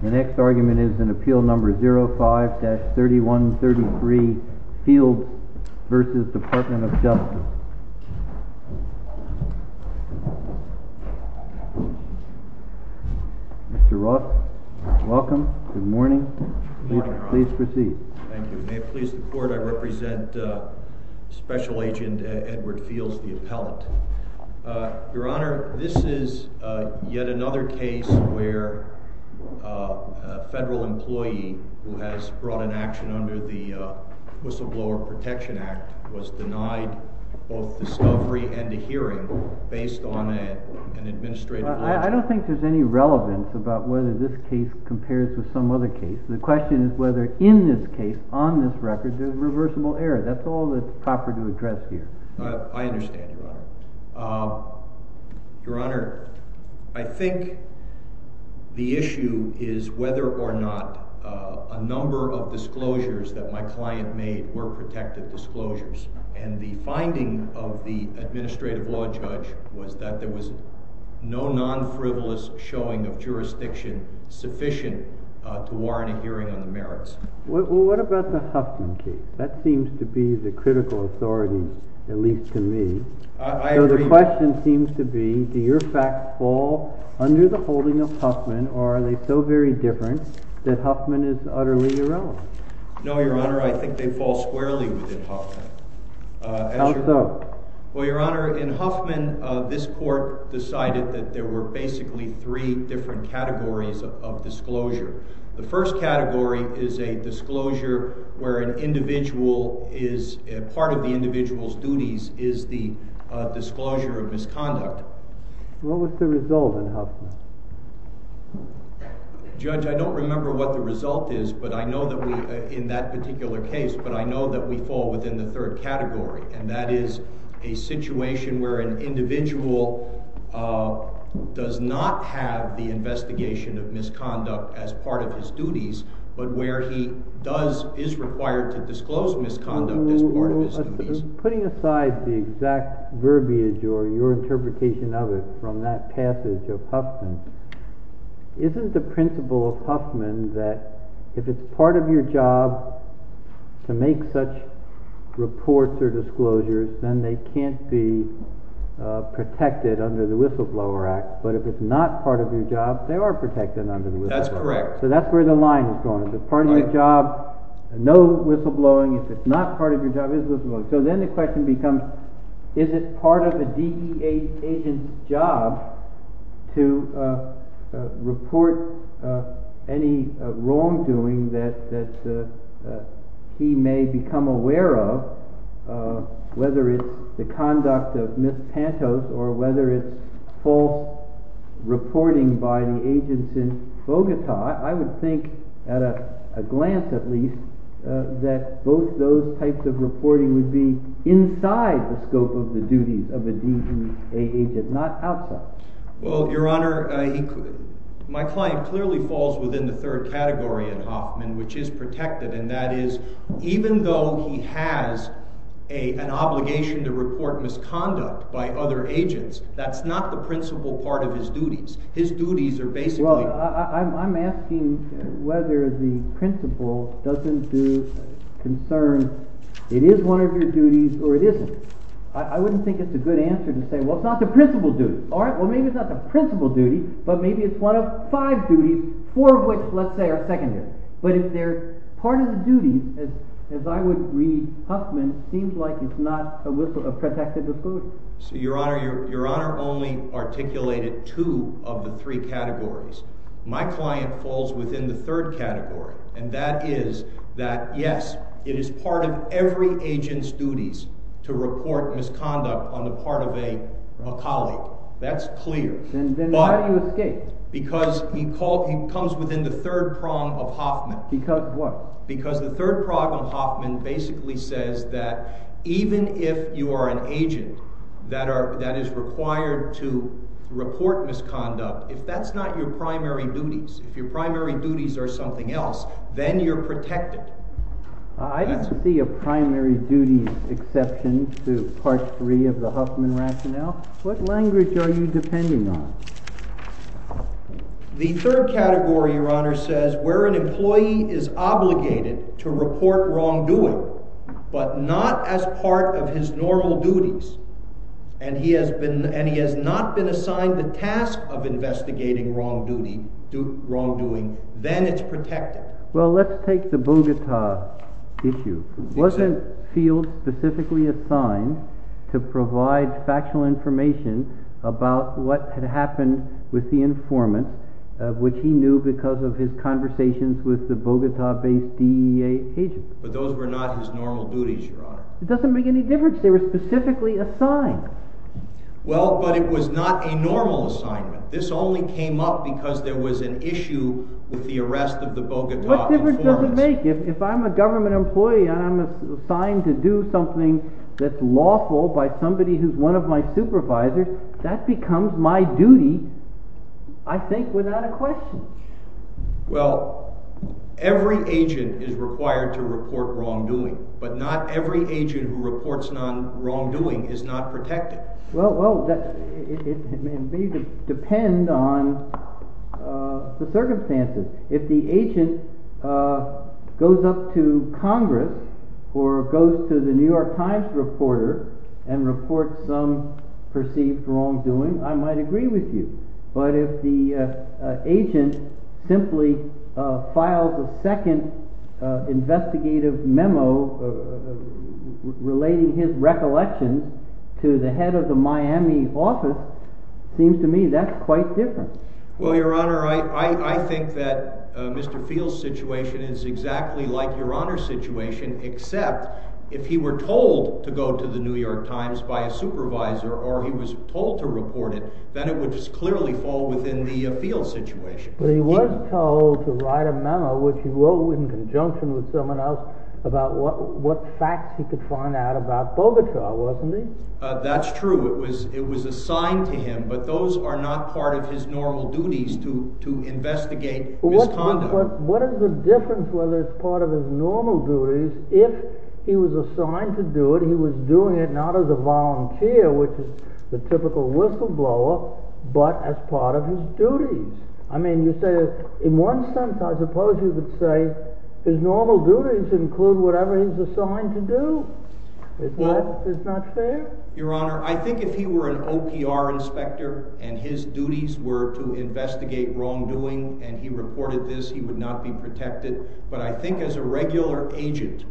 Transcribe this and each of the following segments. The next argument is in Appeal No. 05-3133, Fields v. Department of Justice. Mr. Ross, welcome. Good morning. Please proceed. Thank you. May it please the Court, I represent Special Agent Edward Fields, the appellant. Your Honor, this is yet another case where a federal employee who has brought an action under the Whistleblower Protection Act was denied both discovery and a hearing based on an administrative logic. I don't think there's any relevance about whether this case compares with some other case. The question is whether in this case, on this record, there's reversible error. That's all that's proper to address here. I understand, Your Honor. Your Honor, I think the issue is whether or not a number of disclosures that my client made were protected disclosures. And the finding of the administrative law judge was that there was no non-frivolous showing of jurisdiction sufficient to warrant a hearing on the merits. Well, what about the Huffman case? That seems to be the critical authority, at least to me. I agree. So the question seems to be, do your facts fall under the holding of Huffman, or are they so very different that Huffman is utterly irrelevant? No, Your Honor, I think they fall squarely within Huffman. How so? Well, Your Honor, in Huffman, this court decided that there were basically three different categories of disclosure. The first category is a disclosure where part of the individual's duties is the disclosure of misconduct. What was the result in Huffman? Judge, I don't remember what the result is in that particular case, but I know that we fall within the third category. And that is a situation where an individual does not have the investigation of misconduct as part of his duties, but where he is required to disclose misconduct as part of his duties. Putting aside the exact verbiage or your interpretation of it from that passage of Huffman, isn't the principle of Huffman that if it's part of your job to make such reports or disclosures, then they can't be protected under the Whistleblower Act? But if it's not part of your job, they are protected under the Whistleblower Act. That's correct. So that's where the line is drawn. If it's part of your job, no whistleblowing. If it's not part of your job, it is whistleblowing. So then the question becomes, is it part of a DEA agent's job to report any wrongdoing that he may become aware of, whether it's the conduct of Ms. Pantos or whether it's false reporting by the agents in Bogota? I would think, at a glance at least, that both those types of reporting would be inside the scope of the duties of a DEA agent, not outside. Well, Your Honor, my client clearly falls within the third category in Huffman, which is protected. And that is, even though he has an obligation to report misconduct by other agents, that's not the principal part of his duties. His duties are basically— Well, I'm asking whether the principal doesn't do—concerns it is one of your duties or it isn't. I wouldn't think it's a good answer to say, well, it's not the principal's duty. All right, well, maybe it's not the principal's duty, but maybe it's one of five duties, four of which, let's say, are secondary. But if they're part of the duties, as I would read Huffman, it seems like it's not a whistle—a protective duty. So, Your Honor, Your Honor only articulated two of the three categories. My client falls within the third category, and that is that, yes, it is part of every agent's duties to report misconduct on the part of a colleague. That's clear. Then why do you escape? Because he comes within the third prong of Huffman. Because of what? Because the third prong of Huffman basically says that even if you are an agent that is required to report misconduct, if that's not your primary duties, if your primary duties are something else, then you're protected. I don't see a primary duties exception to Part 3 of the Huffman rationale. What language are you depending on? The third category, Your Honor, says where an employee is obligated to report wrongdoing, but not as part of his normal duties, and he has not been assigned the task of investigating wrongdoing, then it's protected. Well, let's take the Bogota issue. Wasn't Field specifically assigned to provide factual information about what had happened with the informant, which he knew because of his conversations with the Bogota-based DEA agent? But those were not his normal duties, Your Honor. It doesn't make any difference. They were specifically assigned. Well, but it was not a normal assignment. This only came up because there was an issue with the arrest of the Bogota informant. What difference does it make? If I'm a government employee and I'm assigned to do something that's lawful by somebody who's one of my supervisors, that becomes my duty, I think, without a question. Well, every agent is required to report wrongdoing, but not every agent who reports wrongdoing is not protected. Well, it may depend on the circumstances. If the agent goes up to Congress or goes to the New York Times reporter and reports some perceived wrongdoing, I might agree with you. But if the agent simply files a second investigative memo relating his recollections to the head of the Miami office, it seems to me that's quite different. Well, Your Honor, I think that Mr. Field's situation is exactly like Your Honor's situation, except if he were told to go to the New York Times by a supervisor or he was told to report it, then it would just clearly fall within the Field situation. But he was told to write a memo, which he wrote in conjunction with someone else, about what facts he could find out about Bogota, wasn't he? That's true. It was assigned to him, but those are not part of his normal duties to investigate misconduct. What is the difference whether it's part of his normal duties? If he was assigned to do it, he was doing it not as a volunteer, which is the typical whistleblower, but as part of his duties. I mean, in one sense, I suppose you could say his normal duties include whatever he's assigned to do. Is that not fair? Your Honor, I think if he were an OPR inspector and his duties were to investigate wrongdoing and he reported this, he would not be protected. But I think as a regular agent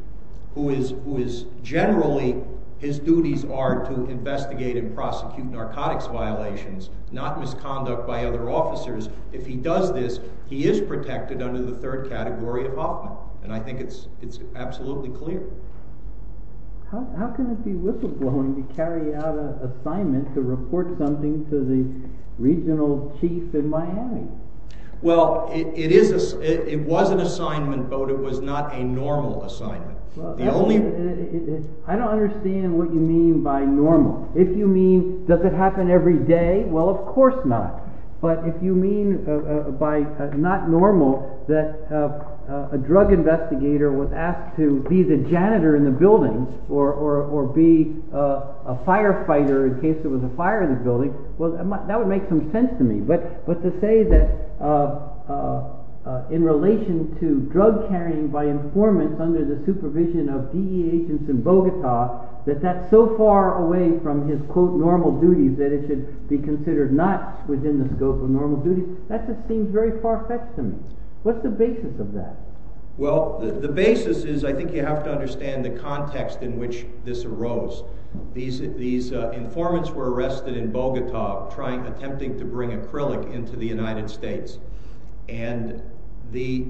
who is generally, his duties are to investigate and prosecute narcotics violations, not misconduct by other officers. If he does this, he is protected under the third category of Hoffman, and I think it's absolutely clear. How can it be whistleblowing to carry out an assignment to report something to the regional chief in Miami? Well, it was an assignment, but it was not a normal assignment. I don't understand what you mean by normal. If you mean does it happen every day, well, of course not. But if you mean by not normal that a drug investigator was asked to be the janitor in the building or be a firefighter in case there was a fire in the building, well, that would make some sense to me. But to say that in relation to drug carrying by informants under the supervision of DE agents in Bogota, that that's so far away from his, quote, normal duties that it should be considered not within the scope of normal duties, that just seems very far-fetched to me. What's the basis of that? Well, the basis is I think you have to understand the context in which this arose. These informants were arrested in Bogota attempting to bring acrylic into the United States, and the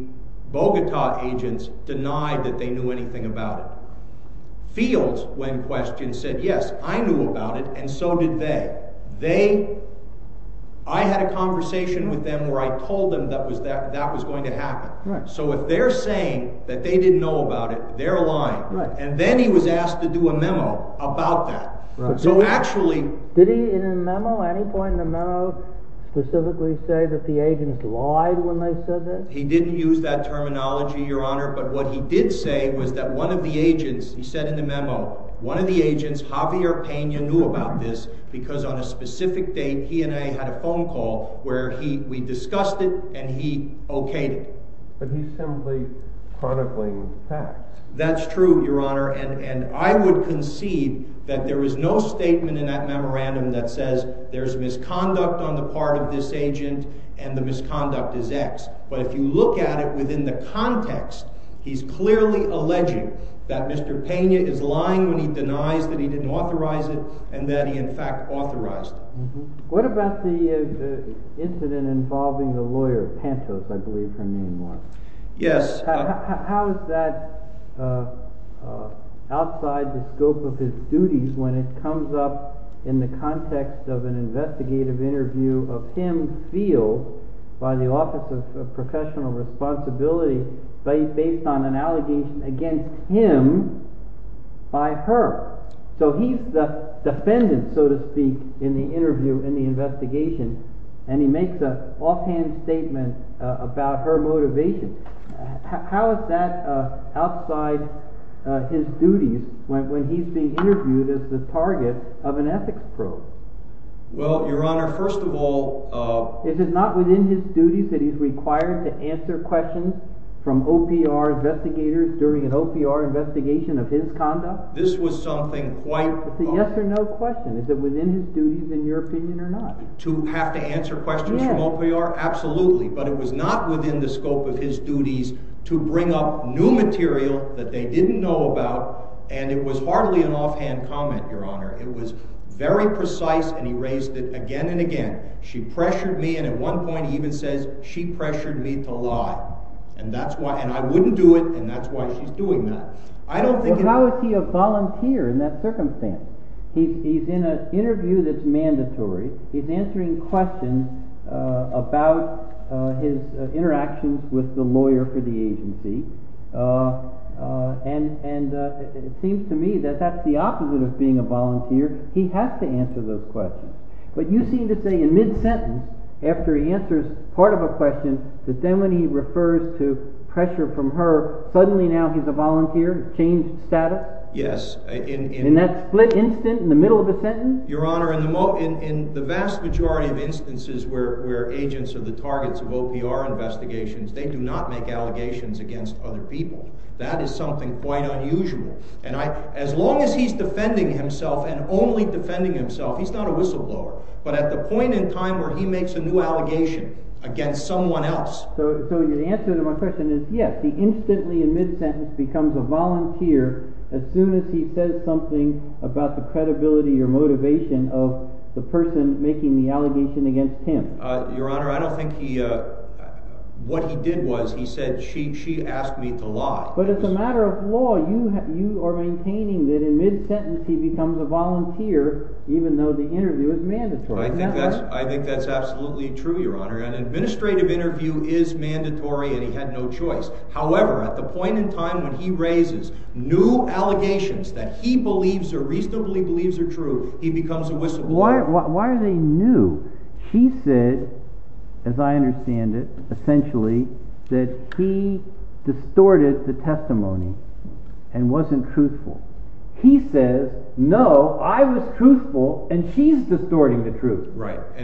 Bogota agents denied that they knew anything about it. Fields, when questioned, said, yes, I knew about it, and so did they. I had a conversation with them where I told them that that was going to happen. So if they're saying that they didn't know about it, they're lying. And then he was asked to do a memo about that. Did he at any point in the memo specifically say that the agents lied when they said that? He said in the memo, one of the agents, Javier Peña, knew about this because on a specific date, he and I had a phone call where we discussed it, and he okayed it. But he's simply chronicling facts. That's true, Your Honor. And I would concede that there is no statement in that memorandum that says there's misconduct on the part of this agent and the misconduct is X. But if you look at it within the context, he's clearly alleging that Mr. Peña is lying when he denies that he didn't authorize it and that he in fact authorized it. What about the incident involving a lawyer, Pantos, I believe her name was. Yes. How is that outside the scope of his duties when it comes up in the context of an investigative interview of him sealed by the Office of Professional Responsibility based on an allegation against him by her? So he's the defendant, so to speak, in the interview, in the investigation, and he makes an offhand statement about her motivation. How is that outside his duties when he's being interviewed as the target of an ethics probe? Well, Your Honor, first of all— Is it not within his duties that he's required to answer questions from OPR investigators during an OPR investigation of his conduct? This was something quite— It's a yes or no question. Is it within his duties in your opinion or not? To have to answer questions from OPR? Yes. Absolutely, but it was not within the scope of his duties to bring up new material that they didn't know about, and it was hardly an offhand comment, Your Honor. It was very precise, and he raised it again and again. She pressured me, and at one point he even says, she pressured me to lie, and I wouldn't do it, and that's why she's doing that. How is he a volunteer in that circumstance? He's in an interview that's mandatory. He's answering questions about his interactions with the lawyer for the agency, and it seems to me that that's the opposite of being a volunteer. He has to answer those questions, but you seem to say in mid-sentence, after he answers part of a question, that then when he refers to pressure from her, suddenly now he's a volunteer, changed status? Yes. In that split instant in the middle of the sentence? Your Honor, in the vast majority of instances where agents are the targets of OPR investigations, they do not make allegations against other people. That is something quite unusual, and as long as he's defending himself and only defending himself, he's not a whistleblower, but at the point in time where he makes a new allegation against someone else. So the answer to my question is yes, he instantly in mid-sentence becomes a volunteer as soon as he says something about the credibility or motivation of the person making the allegation against him. Your Honor, I don't think what he did was he said, she asked me to lie. But it's a matter of law. You are maintaining that in mid-sentence he becomes a volunteer, even though the interview is mandatory. I think that's absolutely true, Your Honor. An administrative interview is mandatory and he had no choice. However, at the point in time when he raises new allegations that he believes or reasonably believes are true, he becomes a whistleblower. Why are they new? She said, as I understand it, essentially, that he distorted the testimony and wasn't truthful. He says, no, I was truthful and she's distorting the truth.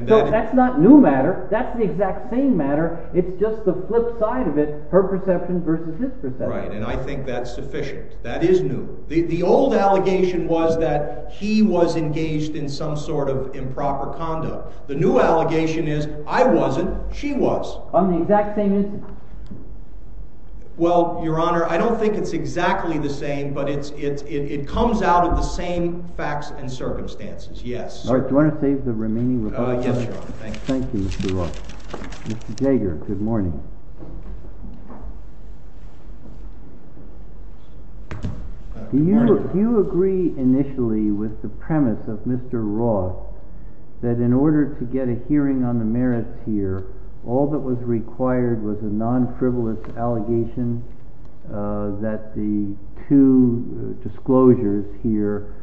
So that's not new matter. That's the exact same matter. It's just the flip side of it, her perception versus his perception. Right, and I think that's sufficient. That is new. The old allegation was that he was engaged in some sort of improper conduct. The new allegation is, I wasn't, she was. On the exact same instance? Well, Your Honor, I don't think it's exactly the same, but it comes out of the same facts and circumstances, yes. All right, do you want to save the remaining rebuttals? Yes, Your Honor, thank you. Thank you, Mr. Roth. Mr. Jager, good morning. Do you agree initially with the premise of Mr. Roth that in order to get a hearing on the merits here, all that was required was a non-frivolous allegation that the two disclosures here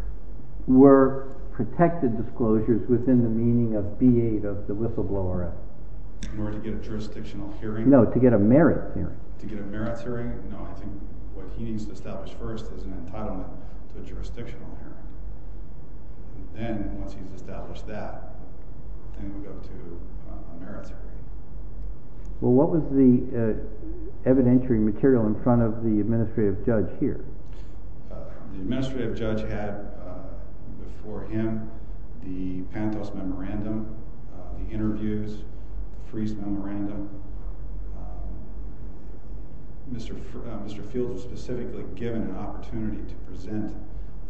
were protected disclosures within the meaning of B-8 of the whistleblower act? In order to get a jurisdictional hearing? No, to get a merits hearing. To get a merits hearing? No, I think what he needs to establish first is an entitlement to a jurisdictional hearing. Then, once he's established that, then we'll go to a merits hearing. Well, what was the evidentiary material in front of the administrative judge here? The administrative judge had before him the Pantos Memorandum, the interviews, Friis Memorandum. Mr. Fields was specifically given an opportunity to present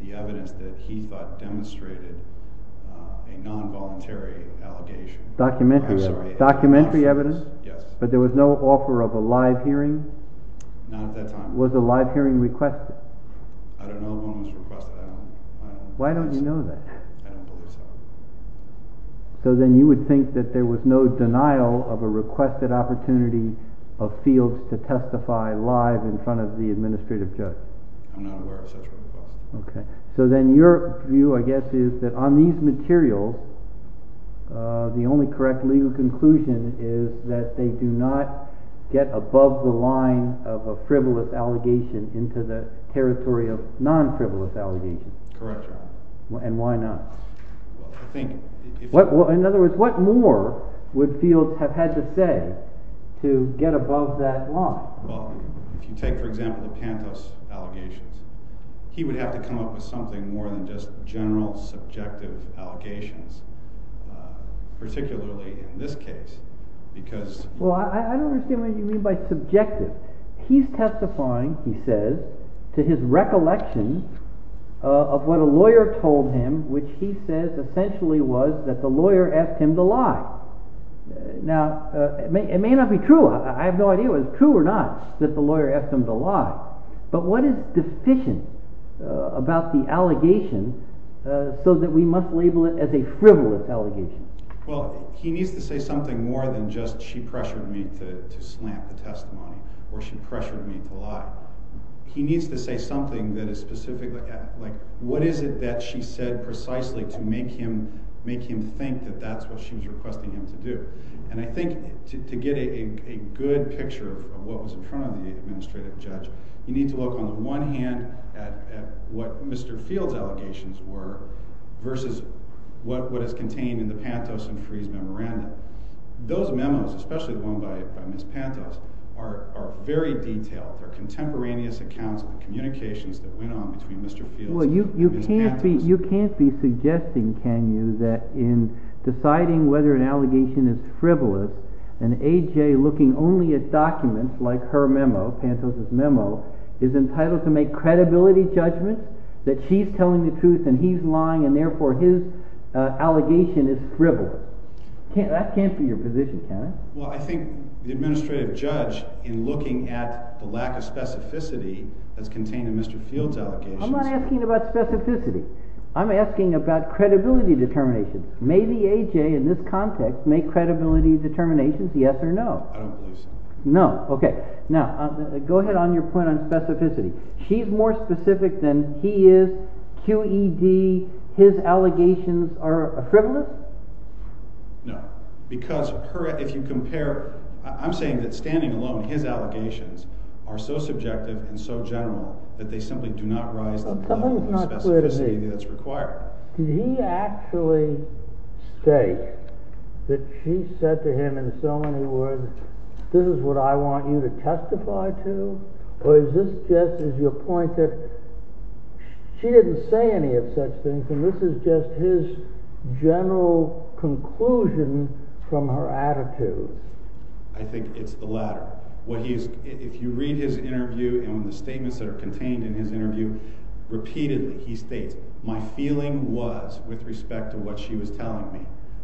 the evidence that he thought demonstrated a non-voluntary allegation. Documentary evidence? Yes. But there was no offer of a live hearing? Not at that time. Was a live hearing requested? I don't know if it was requested. Why don't you know that? I don't believe so. So then you would think that there was no denial of a requested opportunity of Fields to testify live in front of the administrative judge? I'm not aware of such a request. So then your view, I guess, is that on these materials, the only correct legal conclusion is that they do not get above the line of a frivolous allegation into the territory of non-frivolous allegations? Correct, Your Honor. And why not? In other words, what more would Fields have had to say to get above that line? Well, if you take, for example, the Pantos allegations, he would have to come up with something more than just general subjective allegations, particularly in this case. Well, I don't understand what you mean by subjective. He's testifying, he says, to his recollection of what a lawyer told him, which he says essentially was that the lawyer asked him to lie. Now, it may not be true. I have no idea whether it's true or not that the lawyer asked him to lie. But what is deficient about the allegations so that we must label it as a frivolous allegation? Well, he needs to say something more than just she pressured me to slam the testimony or she pressured me to lie. He needs to say something that is specific. Like, what is it that she said precisely to make him think that that's what she was requesting him to do? And I think to get a good picture of what was in front of the administrative judge, you need to look on the one hand at what Mr. Fields' allegations were versus what is contained in the Pantos and Freeh's memorandum. Those memos, especially the one by Ms. Pantos, are very detailed. They're contemporaneous accounts of the communications that went on between Mr. Fields and Ms. Pantos. Well, you can't be suggesting, can you, that in deciding whether an allegation is frivolous, an A.J. looking only at documents like her memo, Pantos' memo, is entitled to make credibility judgments that she's telling the truth and he's lying and therefore his allegation is frivolous. That can't be your position, can it? Well, I think the administrative judge, in looking at the lack of specificity that's contained in Mr. Fields' allegations— I'm not asking about specificity. I'm asking about credibility determinations. May the A.J. in this context make credibility determinations, yes or no? I don't believe so. No, okay. Now, go ahead on your point on specificity. She's more specific than he is. Q.E.D., his allegations are frivolous? No, because if you compare—I'm saying that standing alone, his allegations are so subjective and so general that they simply do not rise to the level of specificity that's required. Did he actually state that she said to him in so many words, this is what I want you to testify to? Or is this just—is your point that she didn't say any of such things and this is just his general conclusion from her attitude? I think it's the latter. If you read his interview and the statements that are contained in his interview, repeatedly he states, my feeling was, with respect to what she was telling me,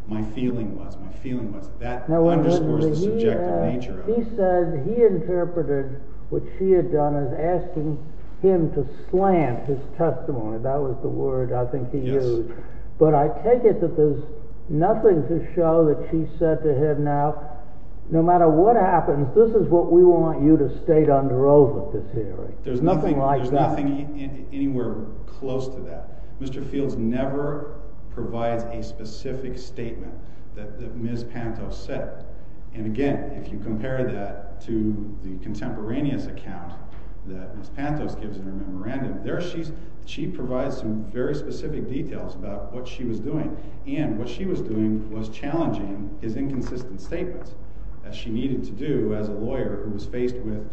my feeling was, my feeling was. That underscores the subjective nature of it. He said he interpreted what she had done as asking him to slant his testimony. That was the word, I think, he used. But I take it that there's nothing to show that she said to him now, no matter what happens, this is what we want you to state under oath at this hearing. There's nothing like that. There's nothing anywhere close to that. Mr. Fields never provides a specific statement that Ms. Pantos said. And again, if you compare that to the contemporaneous account that Ms. Pantos gives in her memorandum, there she provides some very specific details about what she was doing. And what she was doing was challenging his inconsistent statements that she needed to do as a lawyer who was faced with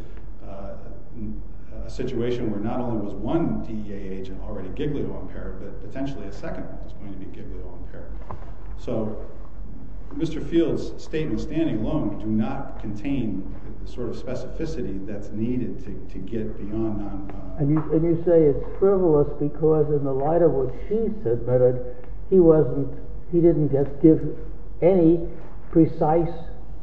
a situation where not only was one DEA agent already giglio impaired, but potentially a second one was going to be giglio impaired. So Mr. Fields' statements standing alone do not contain the sort of specificity that's needed to get beyond that. And you say it's frivolous because in the light of what she said, he didn't give any precise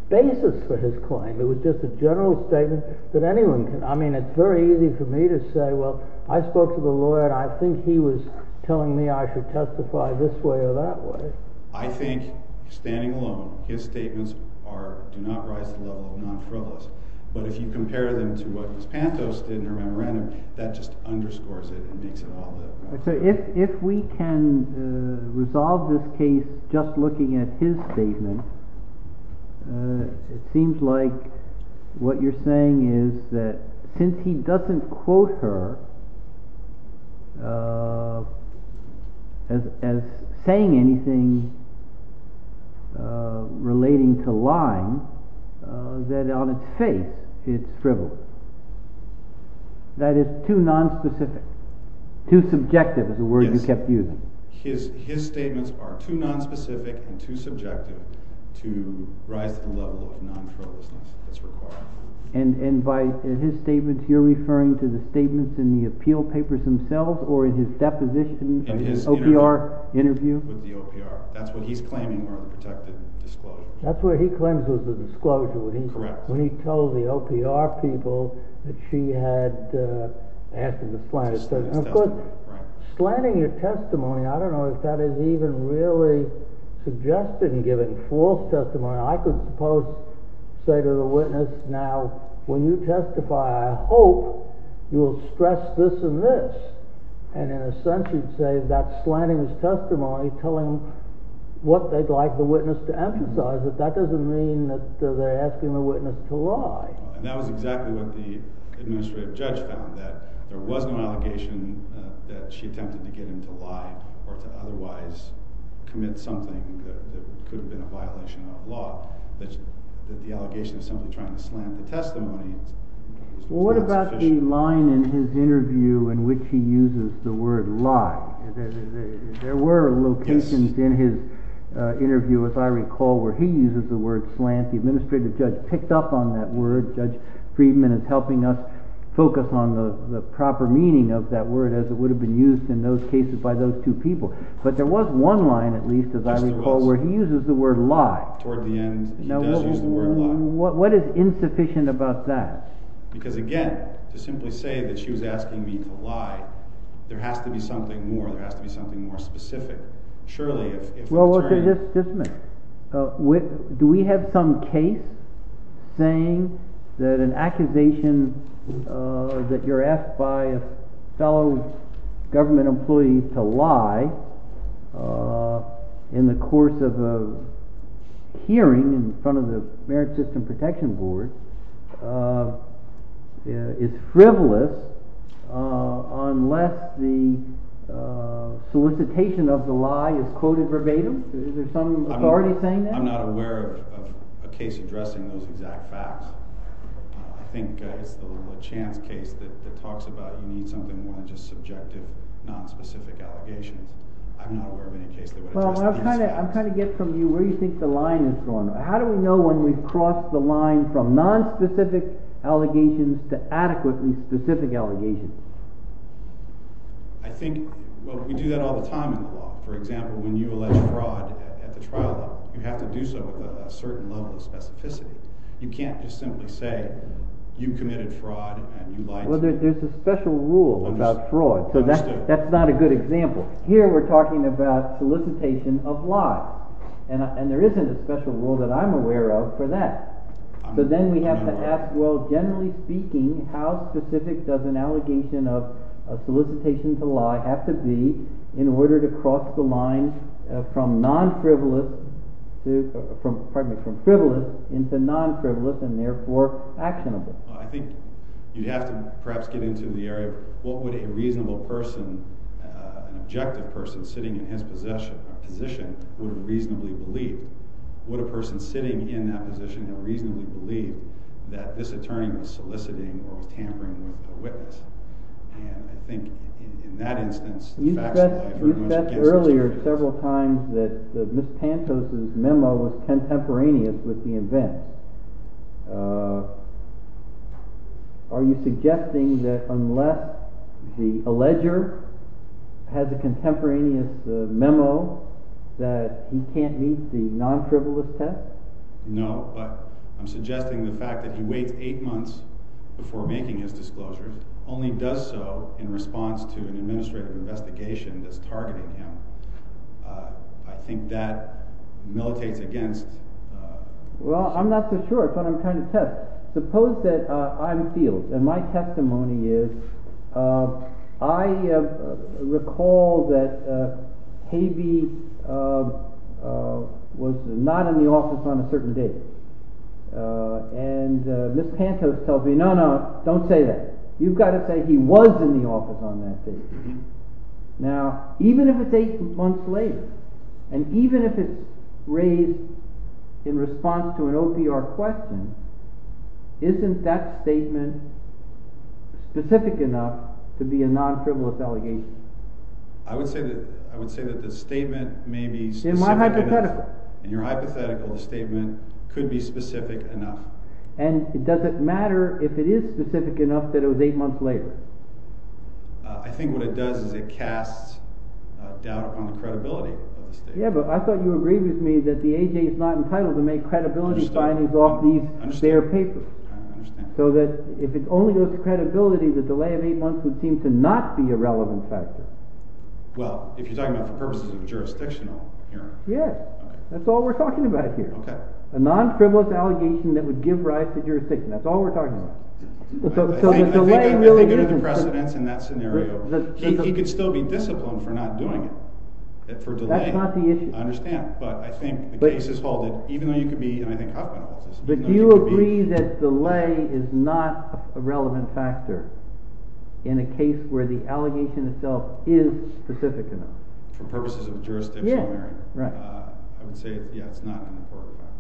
basis for his claim. It was just a general statement that anyone can. I mean, it's very easy for me to say, well, I spoke to the lawyer, and I think he was telling me I should testify this way or that way. I think, standing alone, his statements do not rise to the level of non-frivolous. But if you compare them to what Ms. Pantos did in her memorandum, that just underscores it and makes it all the better. So if we can resolve this case just looking at his statements, it seems like what you're saying is that since he doesn't quote her as saying anything relating to lying, that on its face it's frivolous. That it's too non-specific. Too subjective is the word you kept using. His statements are too non-specific and too subjective to rise to the level of non-frivolousness that's required. And by his statements, you're referring to the statements in the appeal papers themselves or in his deposition of his OPR interview? With the OPR. That's what he's claiming were a protected disclosure. That's where he claims it was a disclosure, when he told the OPR people that she had asked him to slant his testimony. And of course, slanting your testimony, I don't know if that is even really suggesting giving false testimony. I could suppose say to the witness, now, when you testify, I hope you will stress this and this. And in a sense, you'd say that slanting his testimony, telling what they'd like the witness to emphasize, that that doesn't mean that they're asking the witness to lie. And that was exactly what the administrative judge found, that there was no allegation that she attempted to get him to lie or to otherwise commit something that could have been a violation of law. That the allegation of somebody trying to slant the testimony is not sufficient. There was a line in his interview in which he uses the word lie. There were locations in his interview, as I recall, where he uses the word slant. The administrative judge picked up on that word. Judge Friedman is helping us focus on the proper meaning of that word as it would have been used in those cases by those two people. But there was one line, at least, as I recall, where he uses the word lie. Toward the end, he does use the word lie. What is insufficient about that? Because, again, to simply say that she was asking me to lie, there has to be something more. There has to be something more specific. Well, just a minute. Do we have some case saying that an accusation that you're asked by a fellow government employee to lie in the course of a hearing in front of the Merit System Protection Board is frivolous, unless the solicitation of the lie is quoted verbatim? Is there some authority saying that? I'm not aware of a case addressing those exact facts. I think it's the Lachance case that talks about you need something more than just subjective, nonspecific allegations. I'm not aware of any case that would address the exact facts. Well, I'm trying to get from you where you think the line is going. How do we know when we've crossed the line from nonspecific allegations to adequately specific allegations? Well, we do that all the time in the law. For example, when you allege fraud at the trial level, you have to do so with a certain level of specificity. You can't just simply say you committed fraud and you lied to me. Well, there's a special rule about fraud, so that's not a good example. Here, we're talking about solicitation of lies. And there isn't a special rule that I'm aware of for that. So then we have to ask, well, generally speaking, how specific does an allegation of solicitation to lie have to be in order to cross the line from frivolous into non-frivolous and therefore actionable? Well, I think you'd have to perhaps get into the area of what would a reasonable person, an objective person sitting in his position, would reasonably believe. Would a person sitting in that position reasonably believe that this attorney was soliciting or tampering with a witness? And I think in that instance, the facts lie very much against those jurors. It seems that Ms. Pantos' memo was contemporaneous with the event. Are you suggesting that unless the alleger has a contemporaneous memo, that he can't meet the non-frivolous test? No, but I'm suggesting the fact that he waits eight months before making his disclosure only does so in response to an administrative investigation that's targeting him. I think that militates against— Well, I'm not so sure. It's what I'm trying to test. Suppose that I'm field, and my testimony is, I recall that Habe was not in the office on a certain date. And Ms. Pantos tells me, no, no, don't say that. You've got to say he was in the office on that date. Now, even if it's eight months later, and even if it's raised in response to an OPR question, isn't that statement specific enough to be a non-frivolous allegation? I would say that the statement may be specific enough. In my hypothetical. In your hypothetical, the statement could be specific enough. And does it matter if it is specific enough that it was eight months later? I think what it does is it casts doubt upon the credibility of the statement. Yeah, but I thought you agreed with me that the AJ is not entitled to make credibility findings off their paper. I understand. So that if it only goes to credibility, the delay of eight months would seem to not be a relevant factor. Well, if you're talking about for purposes of jurisdictional— Yeah, that's all we're talking about here. Okay. A non-frivolous allegation that would give rise to jurisdiction, that's all we're talking about. I think under the precedence in that scenario, he could still be disciplined for not doing it, for delay. That's not the issue. I understand. But I think the case is halted, even though you could be—and I think Hoffman holds this— But do you agree that delay is not a relevant factor in a case where the allegation itself is specific enough? For purposes of jurisdictional merit. Yeah, right. I would say, yeah, it's not an important factor.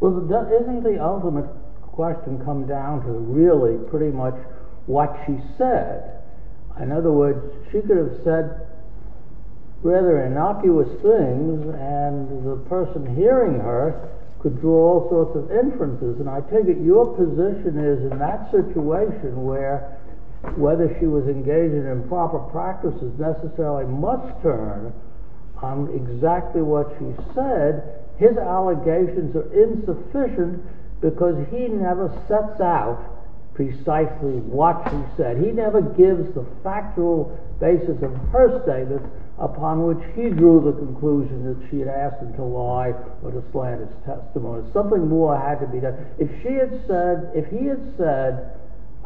Well, doesn't the ultimate question come down to really pretty much what she said? In other words, she could have said rather innocuous things, and the person hearing her could draw all sorts of inferences. And I take it your position is in that situation where whether she was engaged in improper practices necessarily must turn on exactly what she said. His allegations are insufficient because he never sets out precisely what she said. He never gives the factual basis of her statement upon which he drew the conclusion that she had asked him to lie or to slander his testimony. Something more had to be done. If he had said,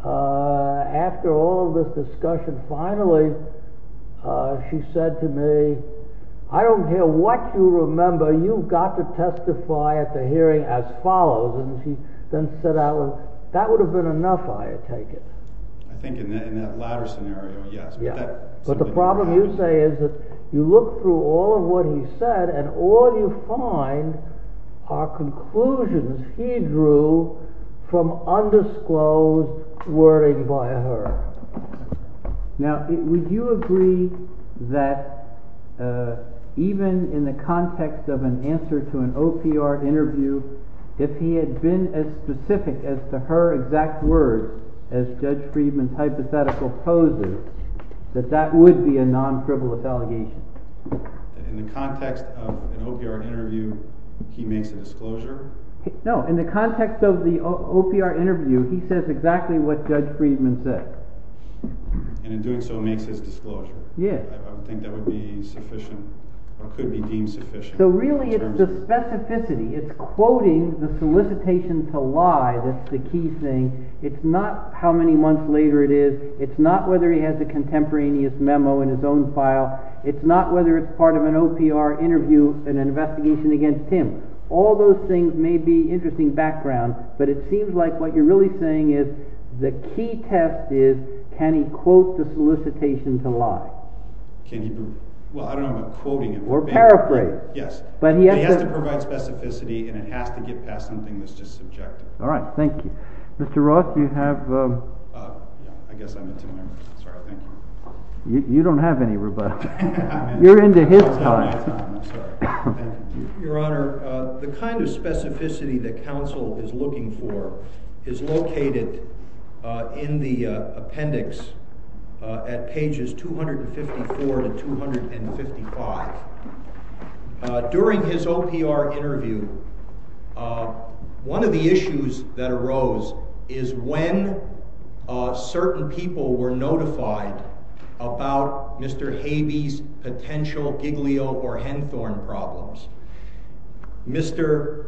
after all of this discussion, finally, she said to me, I don't care what you remember. You've got to testify at the hearing as follows. And she then said, that would have been enough, I take it. I think in that latter scenario, yes. But the problem, you say, is that you look through all of what he said, and all you find are conclusions he drew from undisclosed wording by her. Now, would you agree that even in the context of an answer to an OPR interview, if he had been as specific as to her exact words as Judge Friedman's hypothetical poses, that that would be a non-frivolous allegation? In the context of an OPR interview, he makes a disclosure? No, in the context of the OPR interview, he says exactly what Judge Friedman said. And in doing so, makes his disclosure? Yes. I think that would be sufficient, or could be deemed sufficient. So really, it's the specificity. It's quoting the solicitation to lie that's the key thing. It's not how many months later it is. It's not whether he has a contemporaneous memo in his own file. It's not whether it's part of an OPR interview, an investigation against him. All those things may be interesting background, but it seems like what you're really saying is the key test is, can he quote the solicitation to lie? Well, I don't know about quoting it. Or paraphrase. Yes. But he has to provide specificity, and it has to get past something that's just subjective. All right. Thank you. Mr. Roth, you have? Yeah, I guess I'm a tuner. Sorry. Thank you. You don't have any rebuttal. You're into his time. I'm sorry. Your Honor, the kind of specificity that counsel is looking for is located in the appendix at pages 254 to 255. During his OPR interview, one of the issues that arose is when certain people were notified about Mr. Habey's potential Giglio or Hendthorne problems. Mr.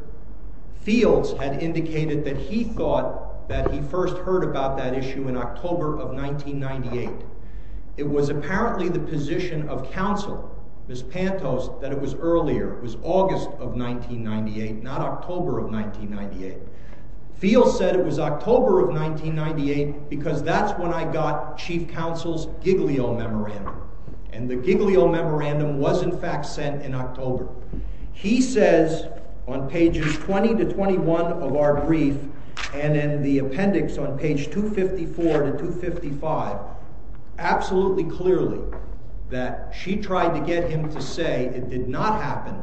Fields had indicated that he thought that he first heard about that issue in October of 1998. It was apparently the position of counsel, Ms. Pantos, that it was earlier. It was August of 1998, not October of 1998. Fields said it was October of 1998 because that's when I got Chief Counsel's Giglio memorandum. And the Giglio memorandum was, in fact, sent in October. He says on pages 20 to 21 of our brief and in the appendix on page 254 to 255 absolutely clearly that she tried to get him to say it did not happen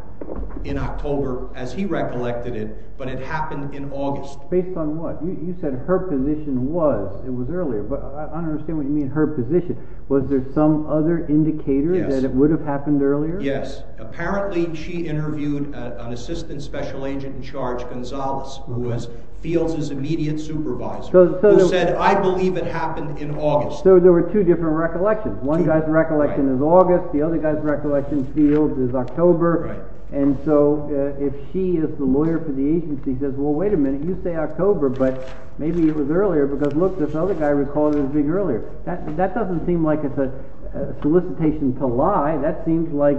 in October as he recollected it, but it happened in August. Based on what? You said her position was it was earlier, but I don't understand what you mean her position. Was there some other indicator that it would have happened earlier? Yes. Apparently she interviewed an assistant special agent in charge, Gonzalez, who was Fields' immediate supervisor, who said, I believe it happened in August. So there were two different recollections. One guy's recollection is August. The other guy's recollection, Fields, is October. And so if she is the lawyer for the agency says, well, wait a minute. You say October, but maybe it was earlier because, look, this other guy recalled it as being earlier. That doesn't seem like it's a solicitation to lie. That seems like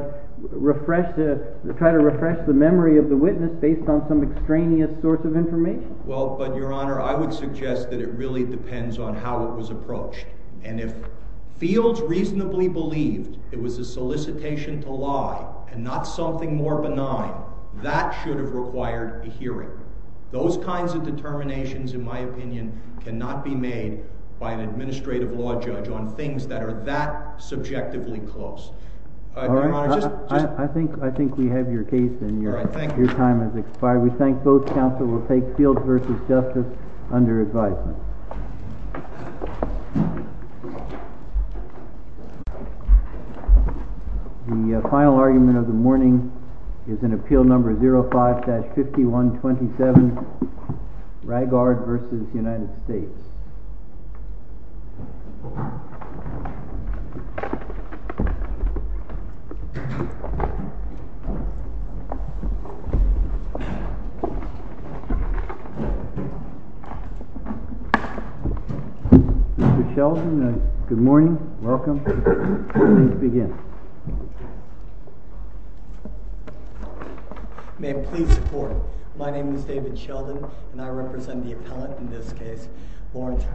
trying to refresh the memory of the witness based on some extraneous source of information. Well, but, Your Honor, I would suggest that it really depends on how it was approached. And if Fields reasonably believed it was a solicitation to lie and not something more benign, that should have required a hearing. Those kinds of determinations, in my opinion, cannot be made by an administrative law judge on things that are that subjectively close. I think we have your case, and your time has expired. We thank both counsel. We'll take Fields v. Justice under advisement. The final argument of the morning is in Appeal Number 05-5127, Rygard v. United States. Mr. Sheldon, good morning. Welcome. Please begin. May it please the Court, my name is David Sheldon, and I represent the appellant in this case, Lawrence Hurd.